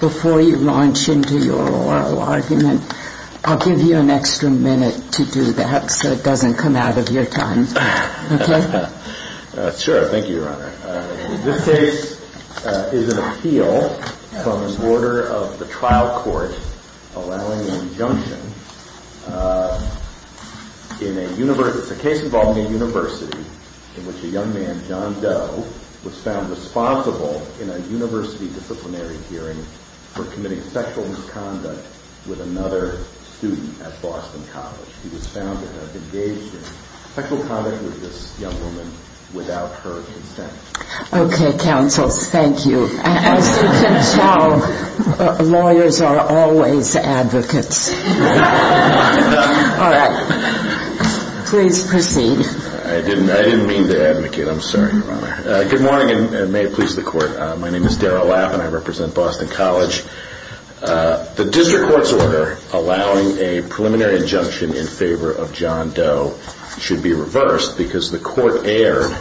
Before you launch into your oral argument, I'll give you an extra minute to do that so it doesn't come out of your tongue, okay? Sure, thank you, Your Honor. This case is an appeal from the order of the trial court allowing an injunction in a case involving a university in which a young man, John Doe, was found responsible in a university disciplinary hearing for committing sexual misconduct with another student at Boston College. He was found to have engaged in sexual conduct with this young woman without her consent. Okay, counsels, thank you. As you can tell, lawyers are always advocates. All right. Please proceed. I didn't mean to advocate. I'm sorry, Your Honor. Good morning, and may it please the Court. My name is Darrell Lapp, and I represent Boston College. The district court's order allowing a preliminary injunction in favor of John Doe should be reversed because the court erred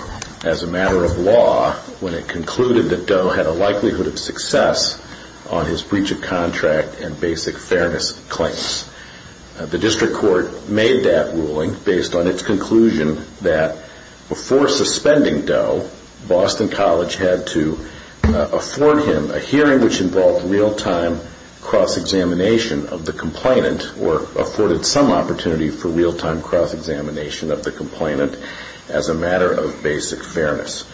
as a matter of law when it concluded that Doe had a likelihood of success on his breach of contract and basic fairness claims. The district court made that ruling based on its conclusion that before suspending Doe, Boston College had to afford him a hearing which involved real-time cross-examination of the complainant or afforded some opportunity for real-time cross-examination of the complainant as a matter of basic fairness.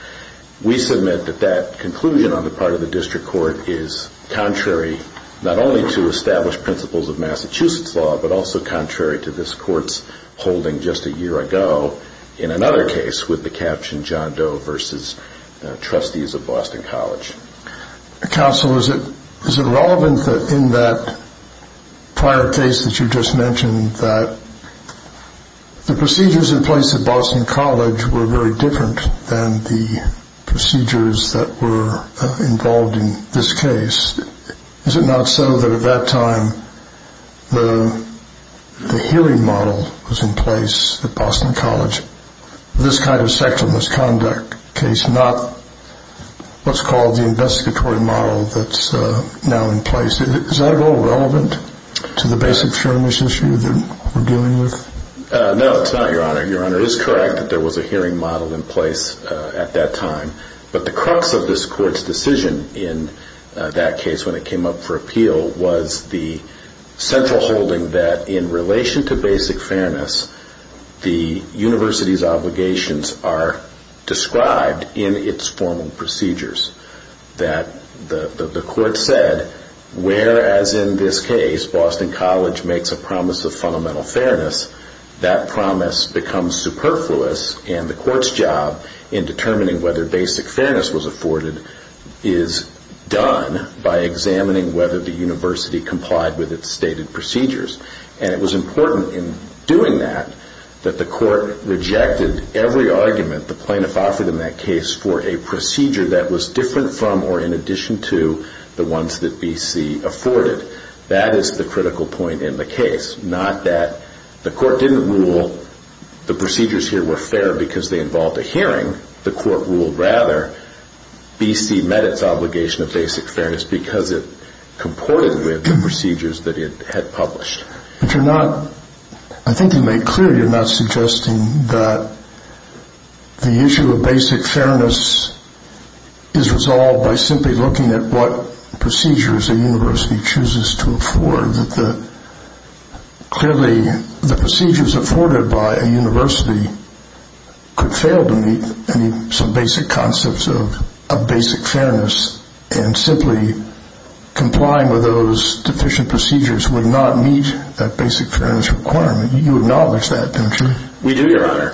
We submit that that conclusion on the part of the district court is contrary not only to established principles of Massachusetts law, but also contrary to this Court's holding just a year ago in another case with the caption, John Doe versus trustees of Boston College. Counsel, is it relevant that in that prior case that you just mentioned that the procedures in place at Boston College were very different than the procedures that were involved in this case? Is it not so that at that time the hearing model was in place at Boston College? This kind of sexual misconduct case, not what's called the investigatory model that's now in place, is that at all relevant to the basic fairness issue that we're dealing with? No, it's not, Your Honor. Your Honor is correct that there was a hearing model in place at that time. But the crux of this Court's decision in that case when it came up for appeal was the central holding that in relation to basic fairness, the university's obligations are described in its formal procedures. That the Court said, whereas in this case, Boston College makes a promise of fundamental fairness, that promise becomes superfluous and the Court's job in determining whether basic fairness was afforded is done by examining whether the university complied with its stated procedures. And it was important in doing that that the Court rejected every argument that the plaintiff offered in that case for a procedure that was different from or in addition to the ones that B.C. afforded. That is the critical point in the case, not that the Court didn't rule the procedures here were fair because they involved a hearing. The Court ruled, rather, B.C. met its obligation of basic fairness because it comported with the procedures that it had published. But you're not, I think you made clear you're not suggesting that the issue of basic fairness is resolved by simply looking at what procedures a university chooses to afford. That clearly the procedures afforded by a university could fail to meet some basic concepts of basic fairness and simply complying with those deficient procedures would not meet that basic fairness requirement. You acknowledge that, don't you? We do, Your Honor.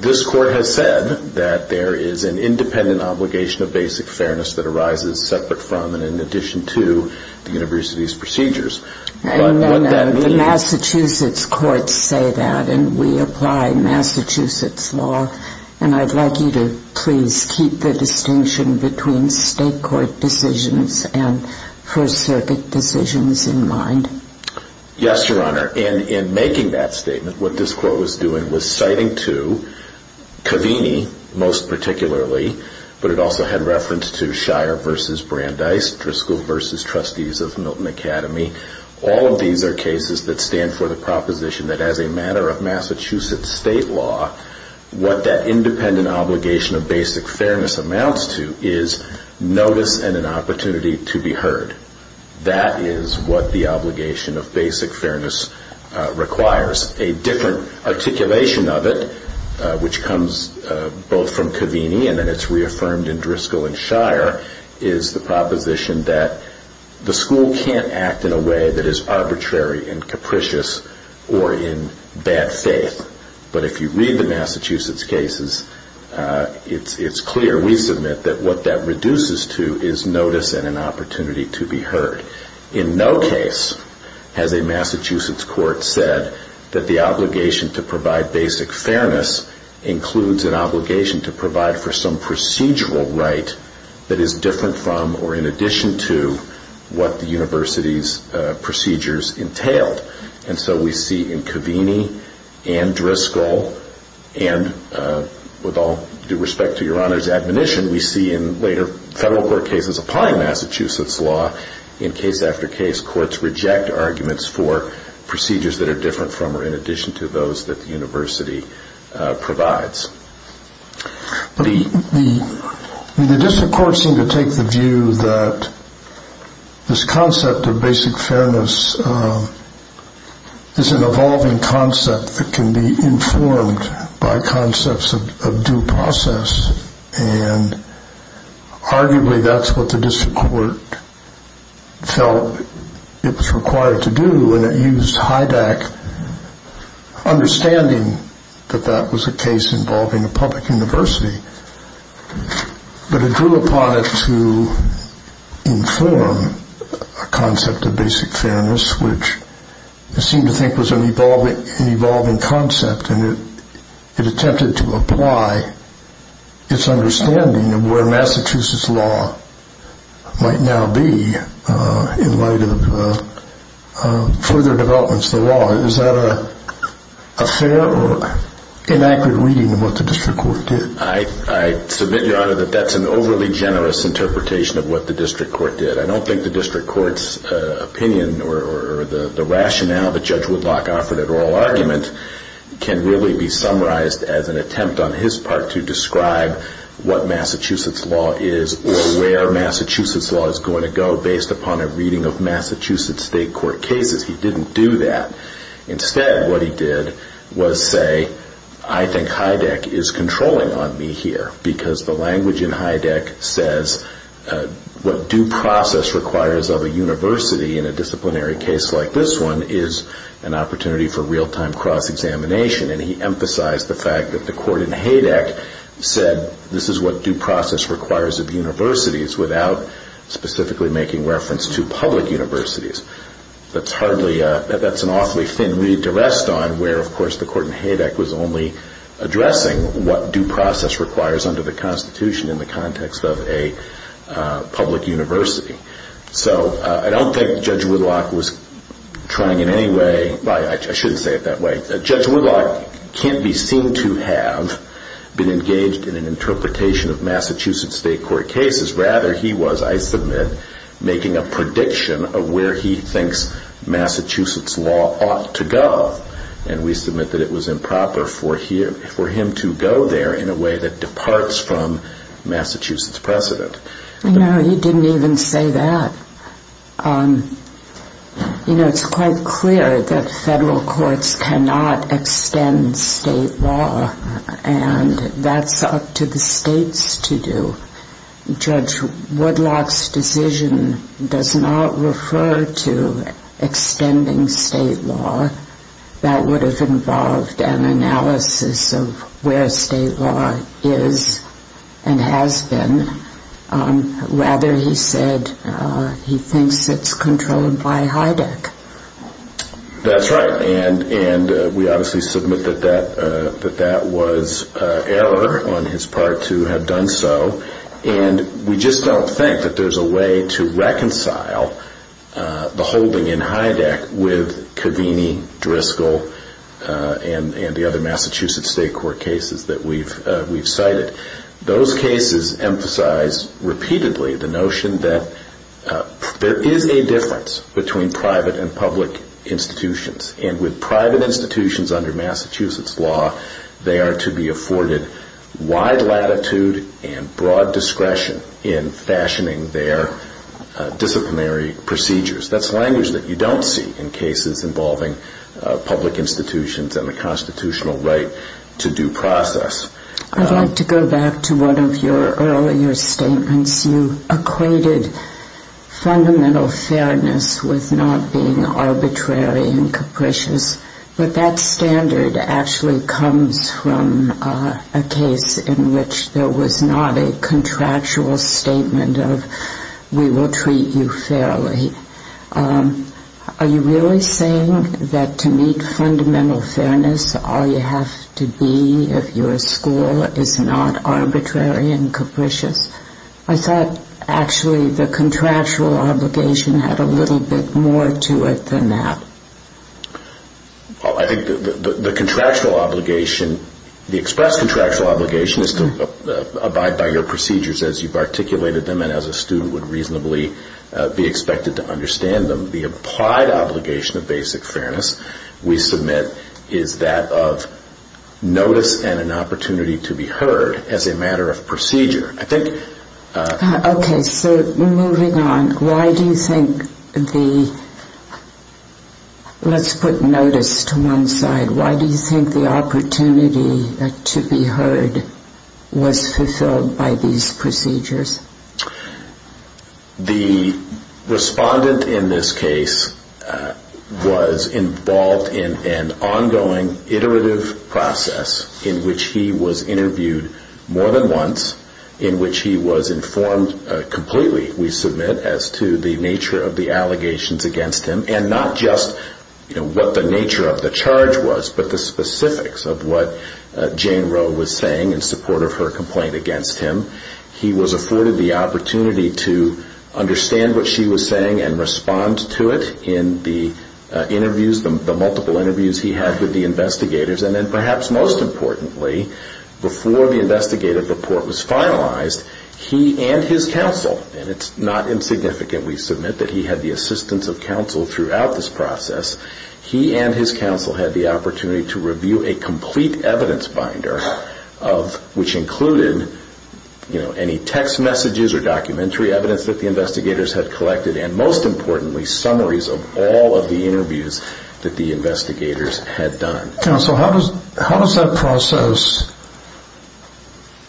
This Court has said that there is an independent obligation of basic fairness that arises separate from and in addition to the university's procedures. And the Massachusetts courts say that and we apply Massachusetts law and I'd like you to please keep the distinction between state court decisions and First Circuit decisions in mind. Yes, Your Honor. In making that statement, what this Court was doing was citing to Covini, most particularly, but it also had reference to Shire v. Brandeis, Driscoll v. Trustees of Milton Academy. All of these are cases that stand for the proposition that as a matter of Massachusetts state law, what that independent obligation of basic fairness amounts to is notice and an opportunity to be heard. That is what the obligation of basic fairness requires. A different articulation of it, which comes both from Covini and then it's reaffirmed in Driscoll and Shire, is the proposition that the school can't act in a way that is arbitrary and capricious or in bad faith. But if you read the Massachusetts cases, it's clear, we submit, that what that reduces to is notice and an opportunity to be heard. In no case has a Massachusetts court said that the obligation to provide basic fairness includes an obligation to provide for some procedural right that is different from or in addition to what the university's procedures entailed. And so we see in Covini and Driscoll and with all due respect to your honor's admonition, we see in later federal court cases applying Massachusetts law in case after case, courts reject arguments for procedures that are different from or in addition to those that the university provides. The district courts seem to take the view that this concept of basic fairness is an evolving concept that can be informed by concepts of due process and arguably that's what the district court felt it was required to do and it used HIDAC understanding that that was a case involving a public university. But it drew upon it to inform a concept of basic fairness which it seemed to think was an evolving concept and it attempted to apply its understanding of where Massachusetts law might now be in light of further developments in the law. Is that a fair or inaccurate reading of what the district court did? I submit your honor that that's an overly generous interpretation of what the district court did. I don't think the district court's opinion or the rationale that Judge Woodlock offered at oral argument can really be summarized as an attempt on his part to describe what Massachusetts law is or where Massachusetts law is going to go based upon a reading of Massachusetts state court cases. He didn't do that. Instead what he did was say I think HIDAC is controlling on me here because the language in HIDAC says what due process requires of a university in a disciplinary case like this one is an opportunity for real-time cross-examination and he emphasized the fact that the court in HIDAC said this is what due process requires of universities without specifically making reference to public universities. That's an awfully thin read to rest on where of course the court in HIDAC was only addressing what due process requires under the Constitution in the context of a public university. So I don't think Judge Woodlock was trying in any way I shouldn't say it that way Judge Woodlock can't be seen to have been engaged in an interpretation of Massachusetts state court cases rather he was I submit making a prediction of where he thinks Massachusetts law ought to go and we submit that it was improper for him to go there in a way that departs from Massachusetts precedent. No, he didn't even say that. You know, it's quite clear that federal courts cannot extend state law and that's up to the states to do. Judge Woodlock's decision does not refer to extending state law that would have involved an analysis of where state law is and has been rather he said he thinks it's controlled by HIDAC. That's right and we obviously submit that that was error on his part to have done so and we just don't think that there's a way to reconcile the holding in HIDAC with Covini, Driscoll and the other Massachusetts state court cases that we've cited. Those cases emphasize repeatedly the notion that there is a difference between private and public institutions and with private institutions under Massachusetts law they are to be afforded wide latitude and broad discretion in fashioning their disciplinary procedures. That's language that you don't see in cases involving public institutions and the constitutional right to due process. I'd like to go back to one of your earlier statements. You equated fundamental fairness with not being arbitrary and capricious but that standard actually comes from a case in which there was not a contractual statement of we will treat you fairly. Are you really saying that to meet fundamental fairness all you have to be if you're a school is not arbitrary and capricious? I thought actually the contractual obligation had a little bit more to it than that. I think the contractual obligation the express contractual obligation is to abide by your procedures as you've articulated them and as a student would reasonably be expected to understand them. The applied obligation of basic fairness we submit is that of notice and an opportunity to be heard as a matter of procedure. Let's put notice to one side. Why do you think the opportunity to be heard was fulfilled by these procedures? The respondent in this case was involved in an ongoing iterative process in which he was interviewed more than once in which he was informed completely we submit as to the nature of the allegations against him and not just what the nature of the charge was but the specifics of what Jane Roe was saying in support of her complaint against him. He was afforded the opportunity to understand what she was saying and respond to it in the multiple interviews he had with the investigators and then perhaps most importantly before the investigative report was finalized he and his counsel and it's not insignificant we submit that he had the assistance of counsel throughout this process he and his counsel had the opportunity to review a complete evidence binder which included any text messages or documentary evidence that the investigators had collected and most importantly summaries of all of the interviews that the investigators had done. Counsel, how does that process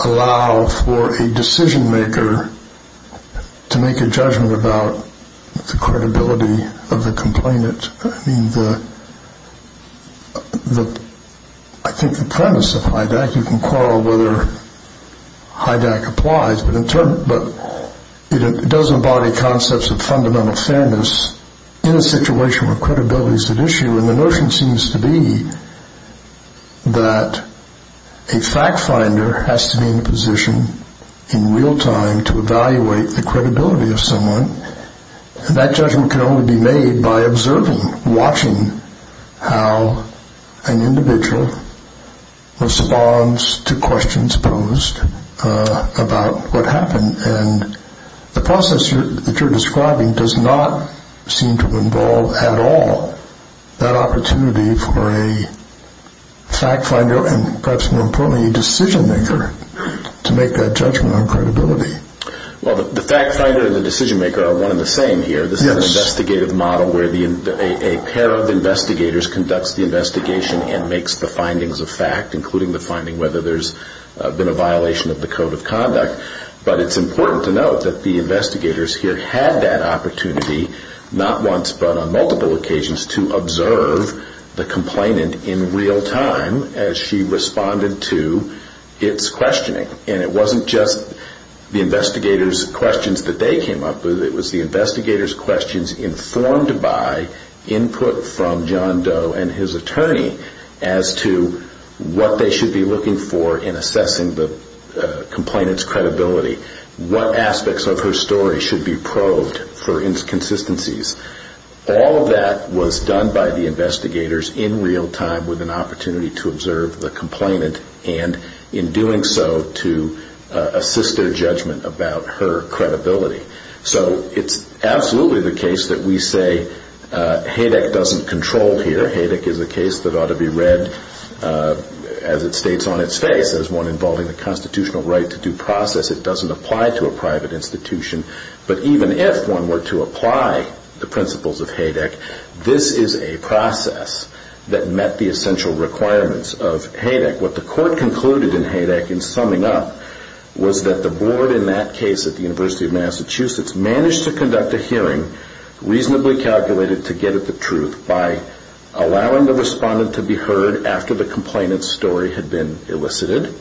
allow for a decision maker to make a judgment about the credibility of the complainant? I think the premise of HIDAC you can quarrel whether HIDAC applies but it does embody concepts of fundamental fairness in a situation where credibility is at issue and the notion seems to be that a fact finder has to be in a position in real time to evaluate the credibility of someone and that judgment can only be made by observing, watching how an individual responds to questions posed about what happened and the process that you're describing does not seem to involve at all that opportunity for a fact finder and perhaps more importantly a decision maker to make that judgment on credibility. The fact finder and the decision maker are one and the same here This is an investigative model where a pair of investigators conducts the investigation and makes the findings of fact including whether there's been a violation of the code of conduct but it's important to note that the investigators here had that opportunity not once but on multiple occasions to observe the complainant in real time as she responded to its questioning and it wasn't just the investigators questions that they came up with it was the investigators questions informed by input from John Doe and his attorney as to what they should be looking for in assessing the complainant's credibility what aspects of her story should be probed for inconsistencies all of that was done by the investigators in real time with an opportunity to observe the complainant and in doing so to assist their judgment about her credibility so it's absolutely the case that we say HADEC doesn't control here HADEC is a case that ought to be read as it states on its face as one involving the constitutional right to due process it doesn't apply to a private institution but even if one were to apply the principles of HADEC this is a process that met the essential requirements of HADEC what the court concluded in HADEC was that the board in that case managed to conduct a hearing reasonably calculated to get at the truth by allowing the respondent to be heard after the complainant's story had been elicited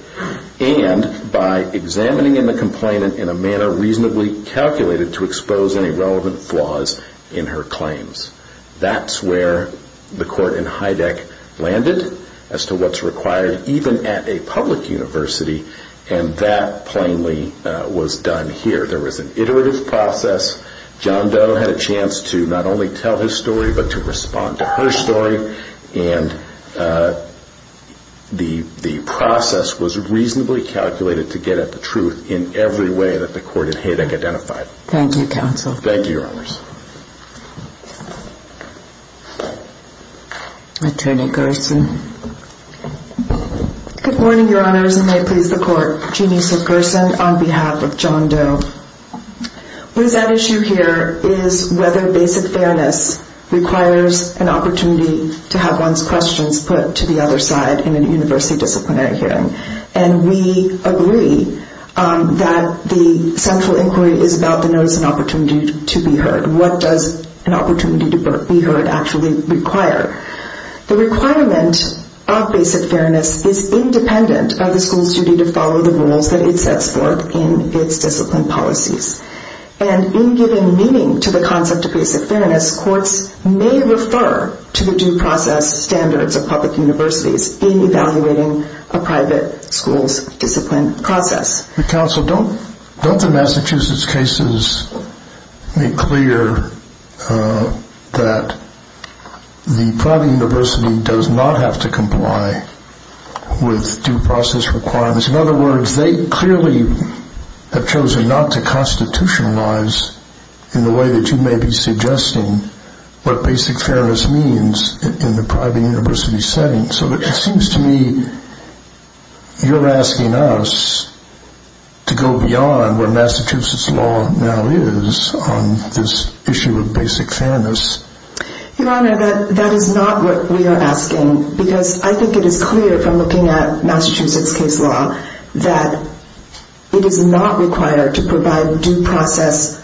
and by examining the complainant in a manner reasonably calculated to expose any relevant flaws in her claims that's where the court in HADEC landed as to what's required even at a public university and that plainly was done here there was an iterative process John Doe had a chance to not only tell his story but to respond to her story and the process was reasonably calculated to get at the truth in every way that the court in HADEC identified thank you counsel thank you your honors attorney Gerson good morning your honors and may it please the court what is at issue here is whether basic fairness requires an opportunity to have one's questions put to the other side in a university disciplinary hearing and we agree that the central inquiry is about the notice and opportunity to be heard what does an opportunity to be heard actually require the requirement of basic fairness is independent of the school's duty to follow the rules that it sets forth in its discipline policies and in giving meaning to the concept of basic fairness courts may refer to the due process standards of public universities in evaluating a private school's discipline process counsel, don't the Massachusetts cases make clear that the private university does not have to comply with due process requirements in other words, they clearly have chosen not to constitutionalize in the way that you may be suggesting what basic fairness means in the private university setting so it seems to me you're asking us to go beyond where Massachusetts law now is on this issue of basic fairness your honor, that is not what we are asking because I think it is clear from looking at Massachusetts case law that it is not required to provide due process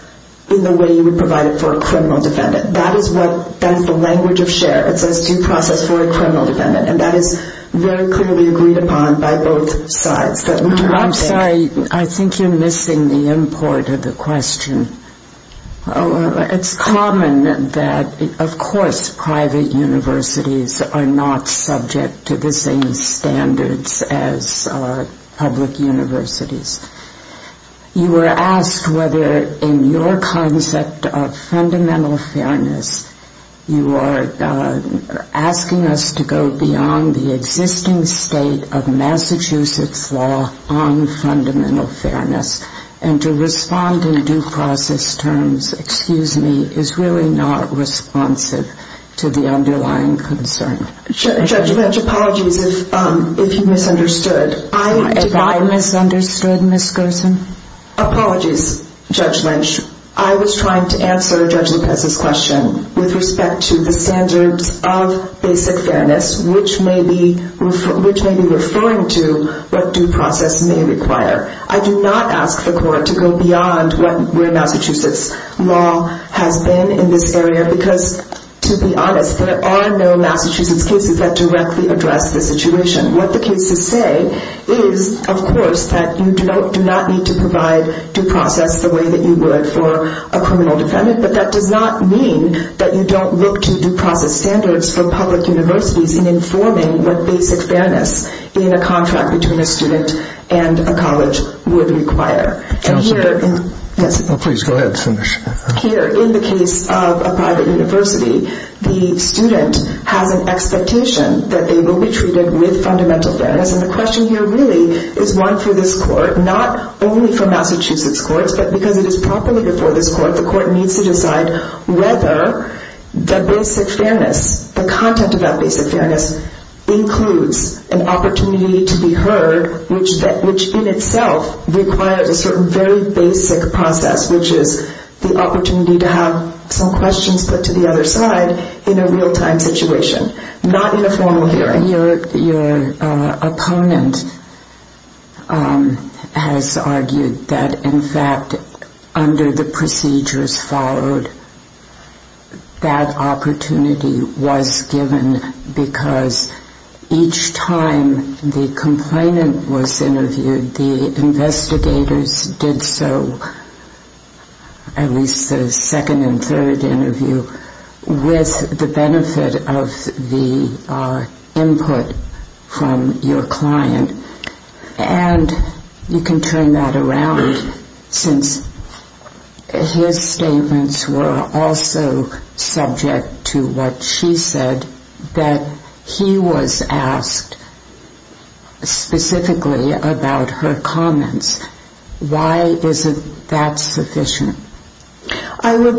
in the way you would provide it for a criminal defendant that is the language of share it says due process for a criminal defendant and that is very clearly agreed upon by both sides I'm sorry, I think you're missing the import of the question it's common that of course private universities are not subject to the same standards as public universities you were asked whether in your concept of fundamental fairness you are asking us to go beyond the existing state of Massachusetts law on fundamental fairness and to respond in due process terms excuse me, is really not responsive to the underlying concern judge, my apologies if you misunderstood if I misunderstood Ms. Gerson apologies Judge Lynch I was trying to answer Judge Lopez's question with respect to the standards of basic fairness which may be referring to what due process may require I do not ask the court to go beyond where Massachusetts law has been in this area because to be honest, there are no Massachusetts cases that directly address the situation what the cases say is of course that you do not need to provide due process the way that you would for a criminal defendant but that does not mean that you don't look to due process standards for public universities in informing what basic fairness in a contract between a student and a college would require here in the case of a private university the student has an expectation that they will be treated with fundamental fairness and the question here really is one for this court not only for Massachusetts courts but because it is properly before this court the court needs to decide whether the basic fairness the content of that basic fairness includes an opportunity to be heard which in itself requires a certain very basic process which is the opportunity to have some questions put to the other side in a real-time situation not in a formal hearing your opponent has argued that in fact under the procedures followed that opportunity was given because each time the complainant was interviewed the investigators did so at least the second and third interview with the benefit of the input from your client and you can turn that around since his statements were also subject to what she said that he was asked specifically about her comments why isn't that sufficient? I would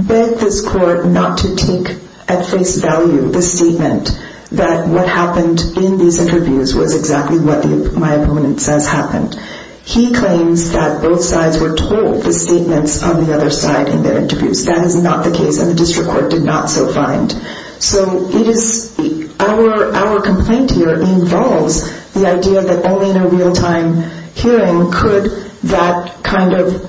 beg this court not to take at face value the statement that what happened in these interviews was exactly what my opponent says happened he claims that both sides were told the statements on the other side in their interviews that is not the case and the district court did not so find so our complaint here involves the idea that only in a real-time hearing could that kind of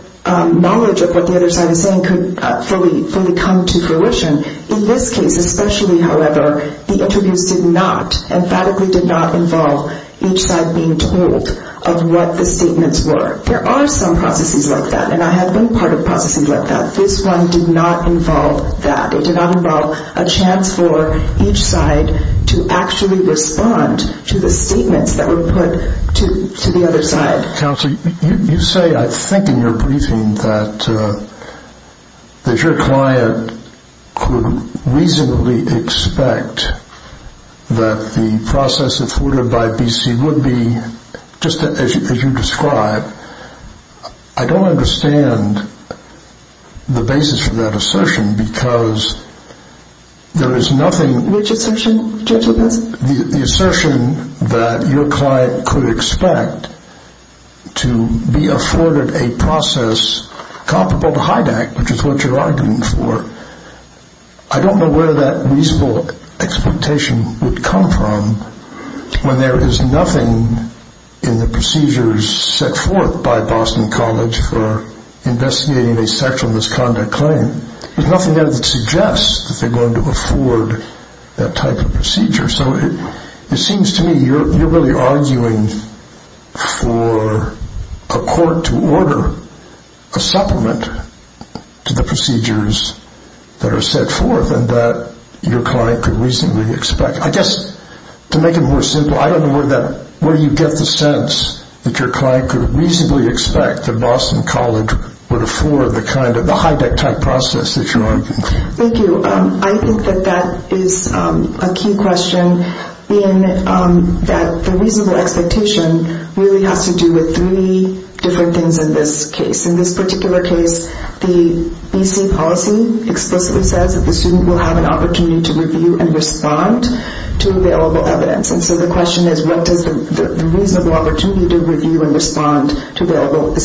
knowledge of what the other side is saying fully come to fruition in this case especially however the interviews did not involve each side being told of what the statements were there are some processes like that and I have been part of processes like that this one did not involve that it did not involve a chance for each side to actually respond to the statements that were put to the other side you say I think in your briefing that your client could reasonably expect that the process afforded by BC would be just as you describe I don't understand the basis for that assertion because there is nothing the assertion that your client could expect to be afforded a process comparable to HIDAC which is what you are arguing for I don't know where that reasonable expectation would come from when there is nothing in the procedures set forth by Boston College for investigating a sexual misconduct claim there is nothing there that suggests that they are going to afford that type of procedure so it seems to me you are really arguing for a court to order a supplement to the procedures that are set forth and that your client could reasonably expect I guess to make it more simple I don't know where you get the sense that your client could reasonably expect that Boston College would afford the HIDAC type process that you are arguing for I think that is a key question that the reasonable expectation really has to do with three different things in this case in this particular case the BC policy explicitly says that the student will have an opportunity to review and respond to available evidence so the question is what does the reasonable opportunity to review and respond to available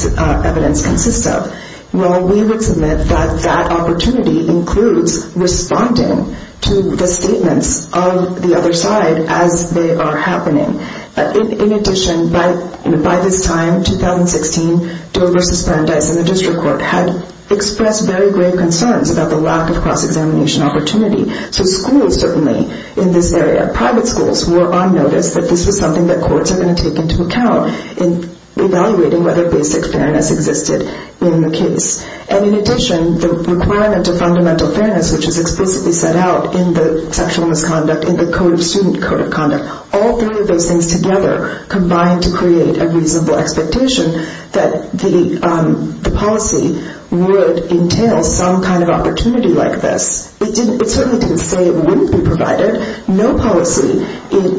evidence consist of we would submit that that opportunity includes responding to the statements of the other side as they are happening in addition by this time in 2016 Dover and the district court had expressed very grave concerns about the lack of cross-examination opportunity so schools certainly in this area private schools were on notice that this was something that courts were going to take into account in evaluating whether basic fairness existed in the case and in addition the requirement of fundamental fairness which is explicitly set out in the sexual misconduct in the code of student code of conduct all three of those things together combined to create a reasonable expectation that the policy would entail some kind of opportunity like this it certainly didn't say it wouldn't be provided no policy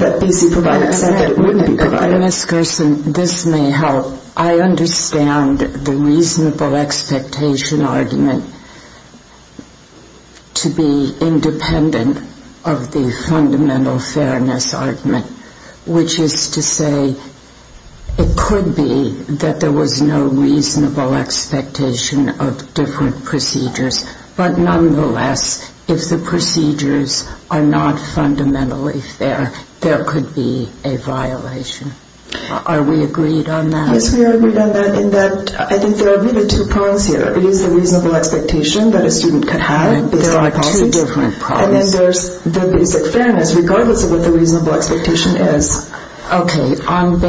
that BC provided said it wouldn't be provided Ms. Gerson this may help I understand the reasonable expectation argument to be independent of the fundamental fairness argument which is to say it could be that there was no reasonable expectation of different procedures but nonetheless if the procedures are not fundamentally fair there could be a violation are we agreed on that yes we are agreed on that I think there are really two problems here it is the reasonable expectation that a student could have and then there is the basic fairness regardless of what the reasonable expectation is ok on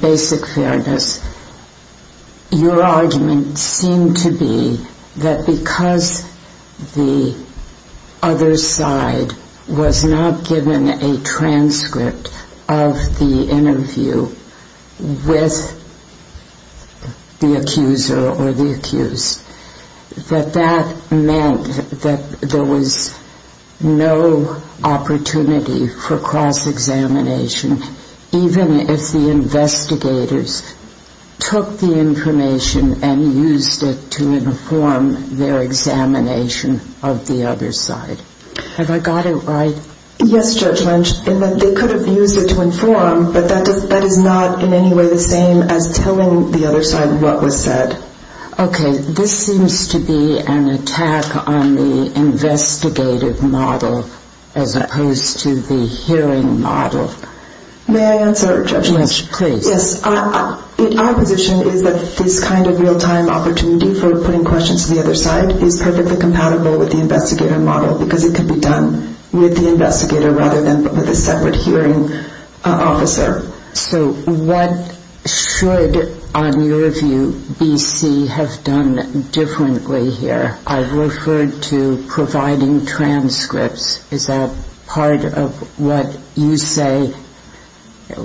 basic fairness your argument seemed to be that because the other side was not given a transcript of the interview with the accuser or the accused that that meant that there was no opportunity for cross-examination even if the investigators took the information and used it to inform their examination of the other side have I got it right yes Judge Lynch they could have used it to inform but that is not in any way the same as telling the other side what was said ok this seems to be an attack on the investigative model as opposed to the hearing model may I answer Judge Lynch our position is that this kind of real-time opportunity for putting questions to the other side is perfectly compatible with the investigative model because it could be done with the investigator rather than with a separate hearing officer so what should on your view BC have done differently here I've referred to providing transcripts is that part of what you say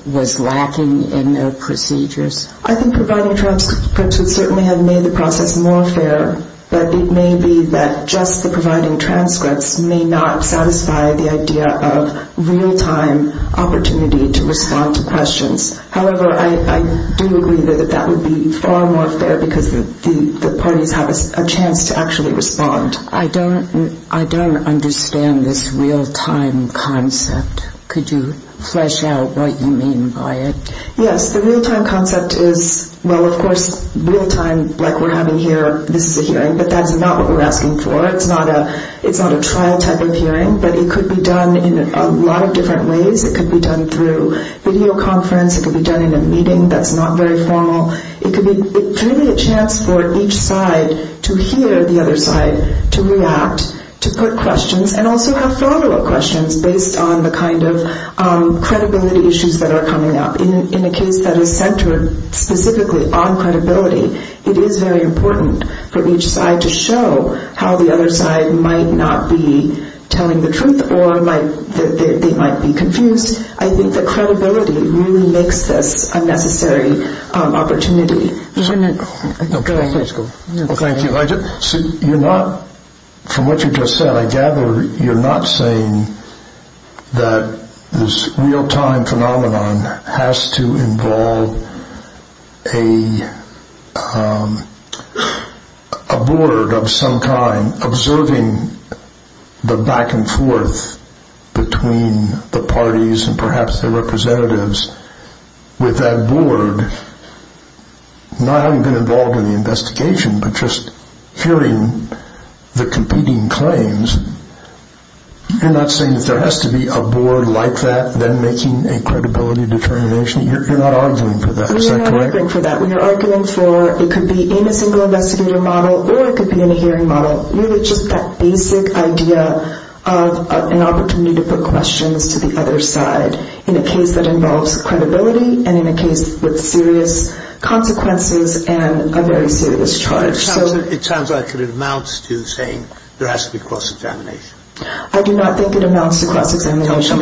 was lacking in their procedures I think providing transcripts would certainly have made the process more fair but it may be that just the providing transcripts may not satisfy the idea of real-time opportunity to respond to questions however I do agree that that would be far more fair because the parties have a chance to actually respond I don't understand this real-time concept could you flesh out what you mean by it yes the real-time concept is well of course real-time like we're having here this is a hearing but that's not what we're asking for it's not a trial type of hearing but it could be done in a lot of different ways it could be done through video conference it could be done in a meeting that's not very formal it's really a chance for each side to hear the other side to react, to put questions and also have follow-up questions based on the kind of credibility issues that are coming up in a case that is centered specifically on credibility it is very important for each side to show how the other side might not be telling the truth or they might be confused I think that credibility really makes this a necessary opportunity from what you just said I gather you're not saying that this real-time phenomenon has to involve a board of some kind observing the back and forth between the parties and perhaps the representatives with that board not having been involved in the investigation but just hearing the competing claims you're not saying that there has to be a board like that making a credibility determination you're not arguing for that, is that correct? We're not arguing for that, we're arguing for it could be in a single investigator model or it could be in a hearing model really just that basic idea of an opportunity you need to put questions to the other side in a case that involves credibility and in a case with serious consequences and a very serious charge it sounds like it amounts to saying there has to be cross-examination I do not think it amounts to cross-examination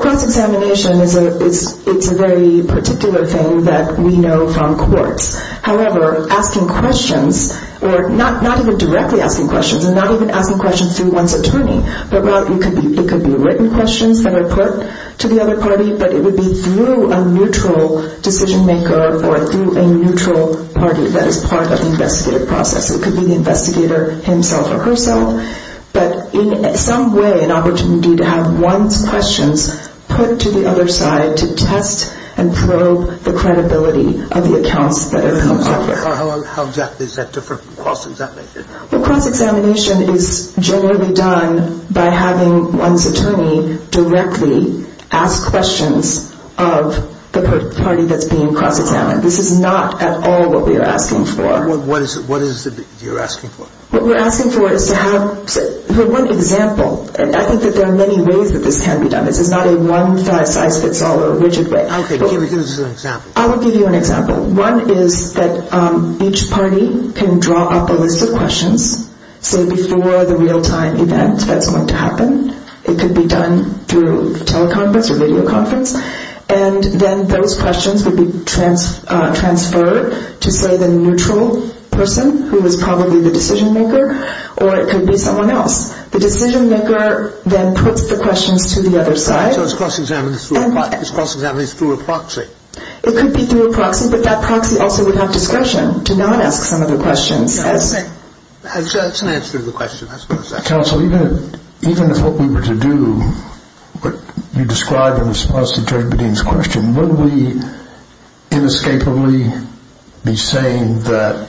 cross-examination is a very particular thing that we know from courts however, asking questions or not even directly asking questions and not even asking questions through one's attorney it could be written questions that are put to the other party but it would be through a neutral decision maker or through a neutral party that is part of the investigative process it could be the investigator himself or herself but in some way an opportunity to have one's questions put to the other side to test and probe the credibility of the accounts that have come through how exactly is that different from cross-examination? cross-examination is generally done by having one's attorney directly ask questions of the party that's being cross-examined this is not at all what we are asking for what is it that you're asking for? what we're asking for is to have for one example, I think that there are many ways that this can be done this is not a one-size-fits-all or a rigid way I will give you an example one is that each party can draw up a list of questions say before the real-time event that's going to happen it could be done through teleconference or videoconference and then those questions would be transferred to say the neutral person who is probably the decision maker or it could be someone else the decision maker then puts the questions to the other side so it's cross-examination through a proxy it could be through a proxy but that proxy also would have discretion to not ask some of the questions that's an answer to the question counsel, even if what we were to do what you described in response to Judge Bedeen's question would we inescapably be saying that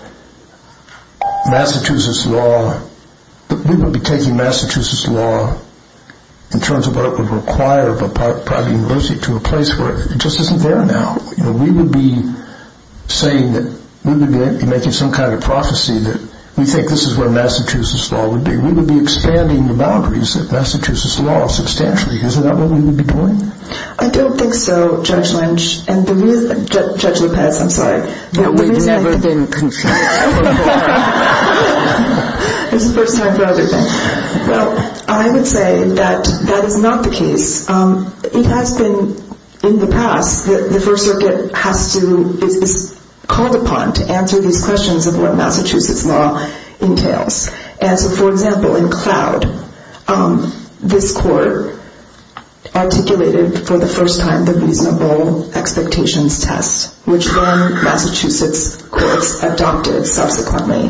Massachusetts law we would be taking Massachusetts law in terms of what it would require of a private university to a place where it just isn't there now we would be saying that we would be making some kind of prophecy that we think this is where Massachusetts law would be we would be expanding the boundaries of Massachusetts law substantially is that what we would be doing? I don't think so, Judge Lynch Judge Lopez, I'm sorry we've never been concerned before this is the first time for other things I would say that that is not the case it has been in the past that the First Circuit is called upon to answer these questions of what Massachusetts law entails for example, in Cloud this court articulated for the first time the reasonable expectations test which then Massachusetts courts adopted subsequently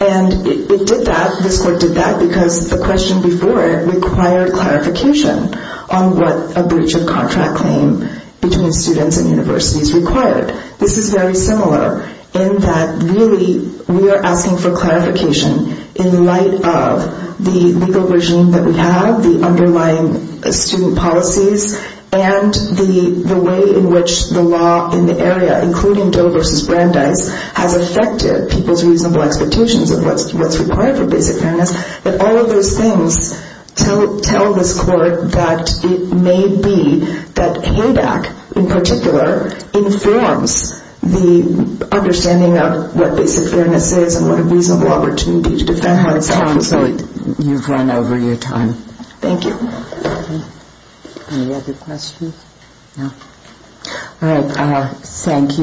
and it did that this court did that because the question before it required clarification on what a breach of contract claim between students and universities required this is very similar in that really we are asking for clarification in light of the legal regime that we have the underlying student policies and the way in which the law in the area including Doe v. Brandeis has affected people's reasonable expectations of what's required for basic fairness that all of those things tell this court that it may be that HADAC in particular informs the understanding of what basic fairness is and what a reasonable opportunity to defend oneself thank you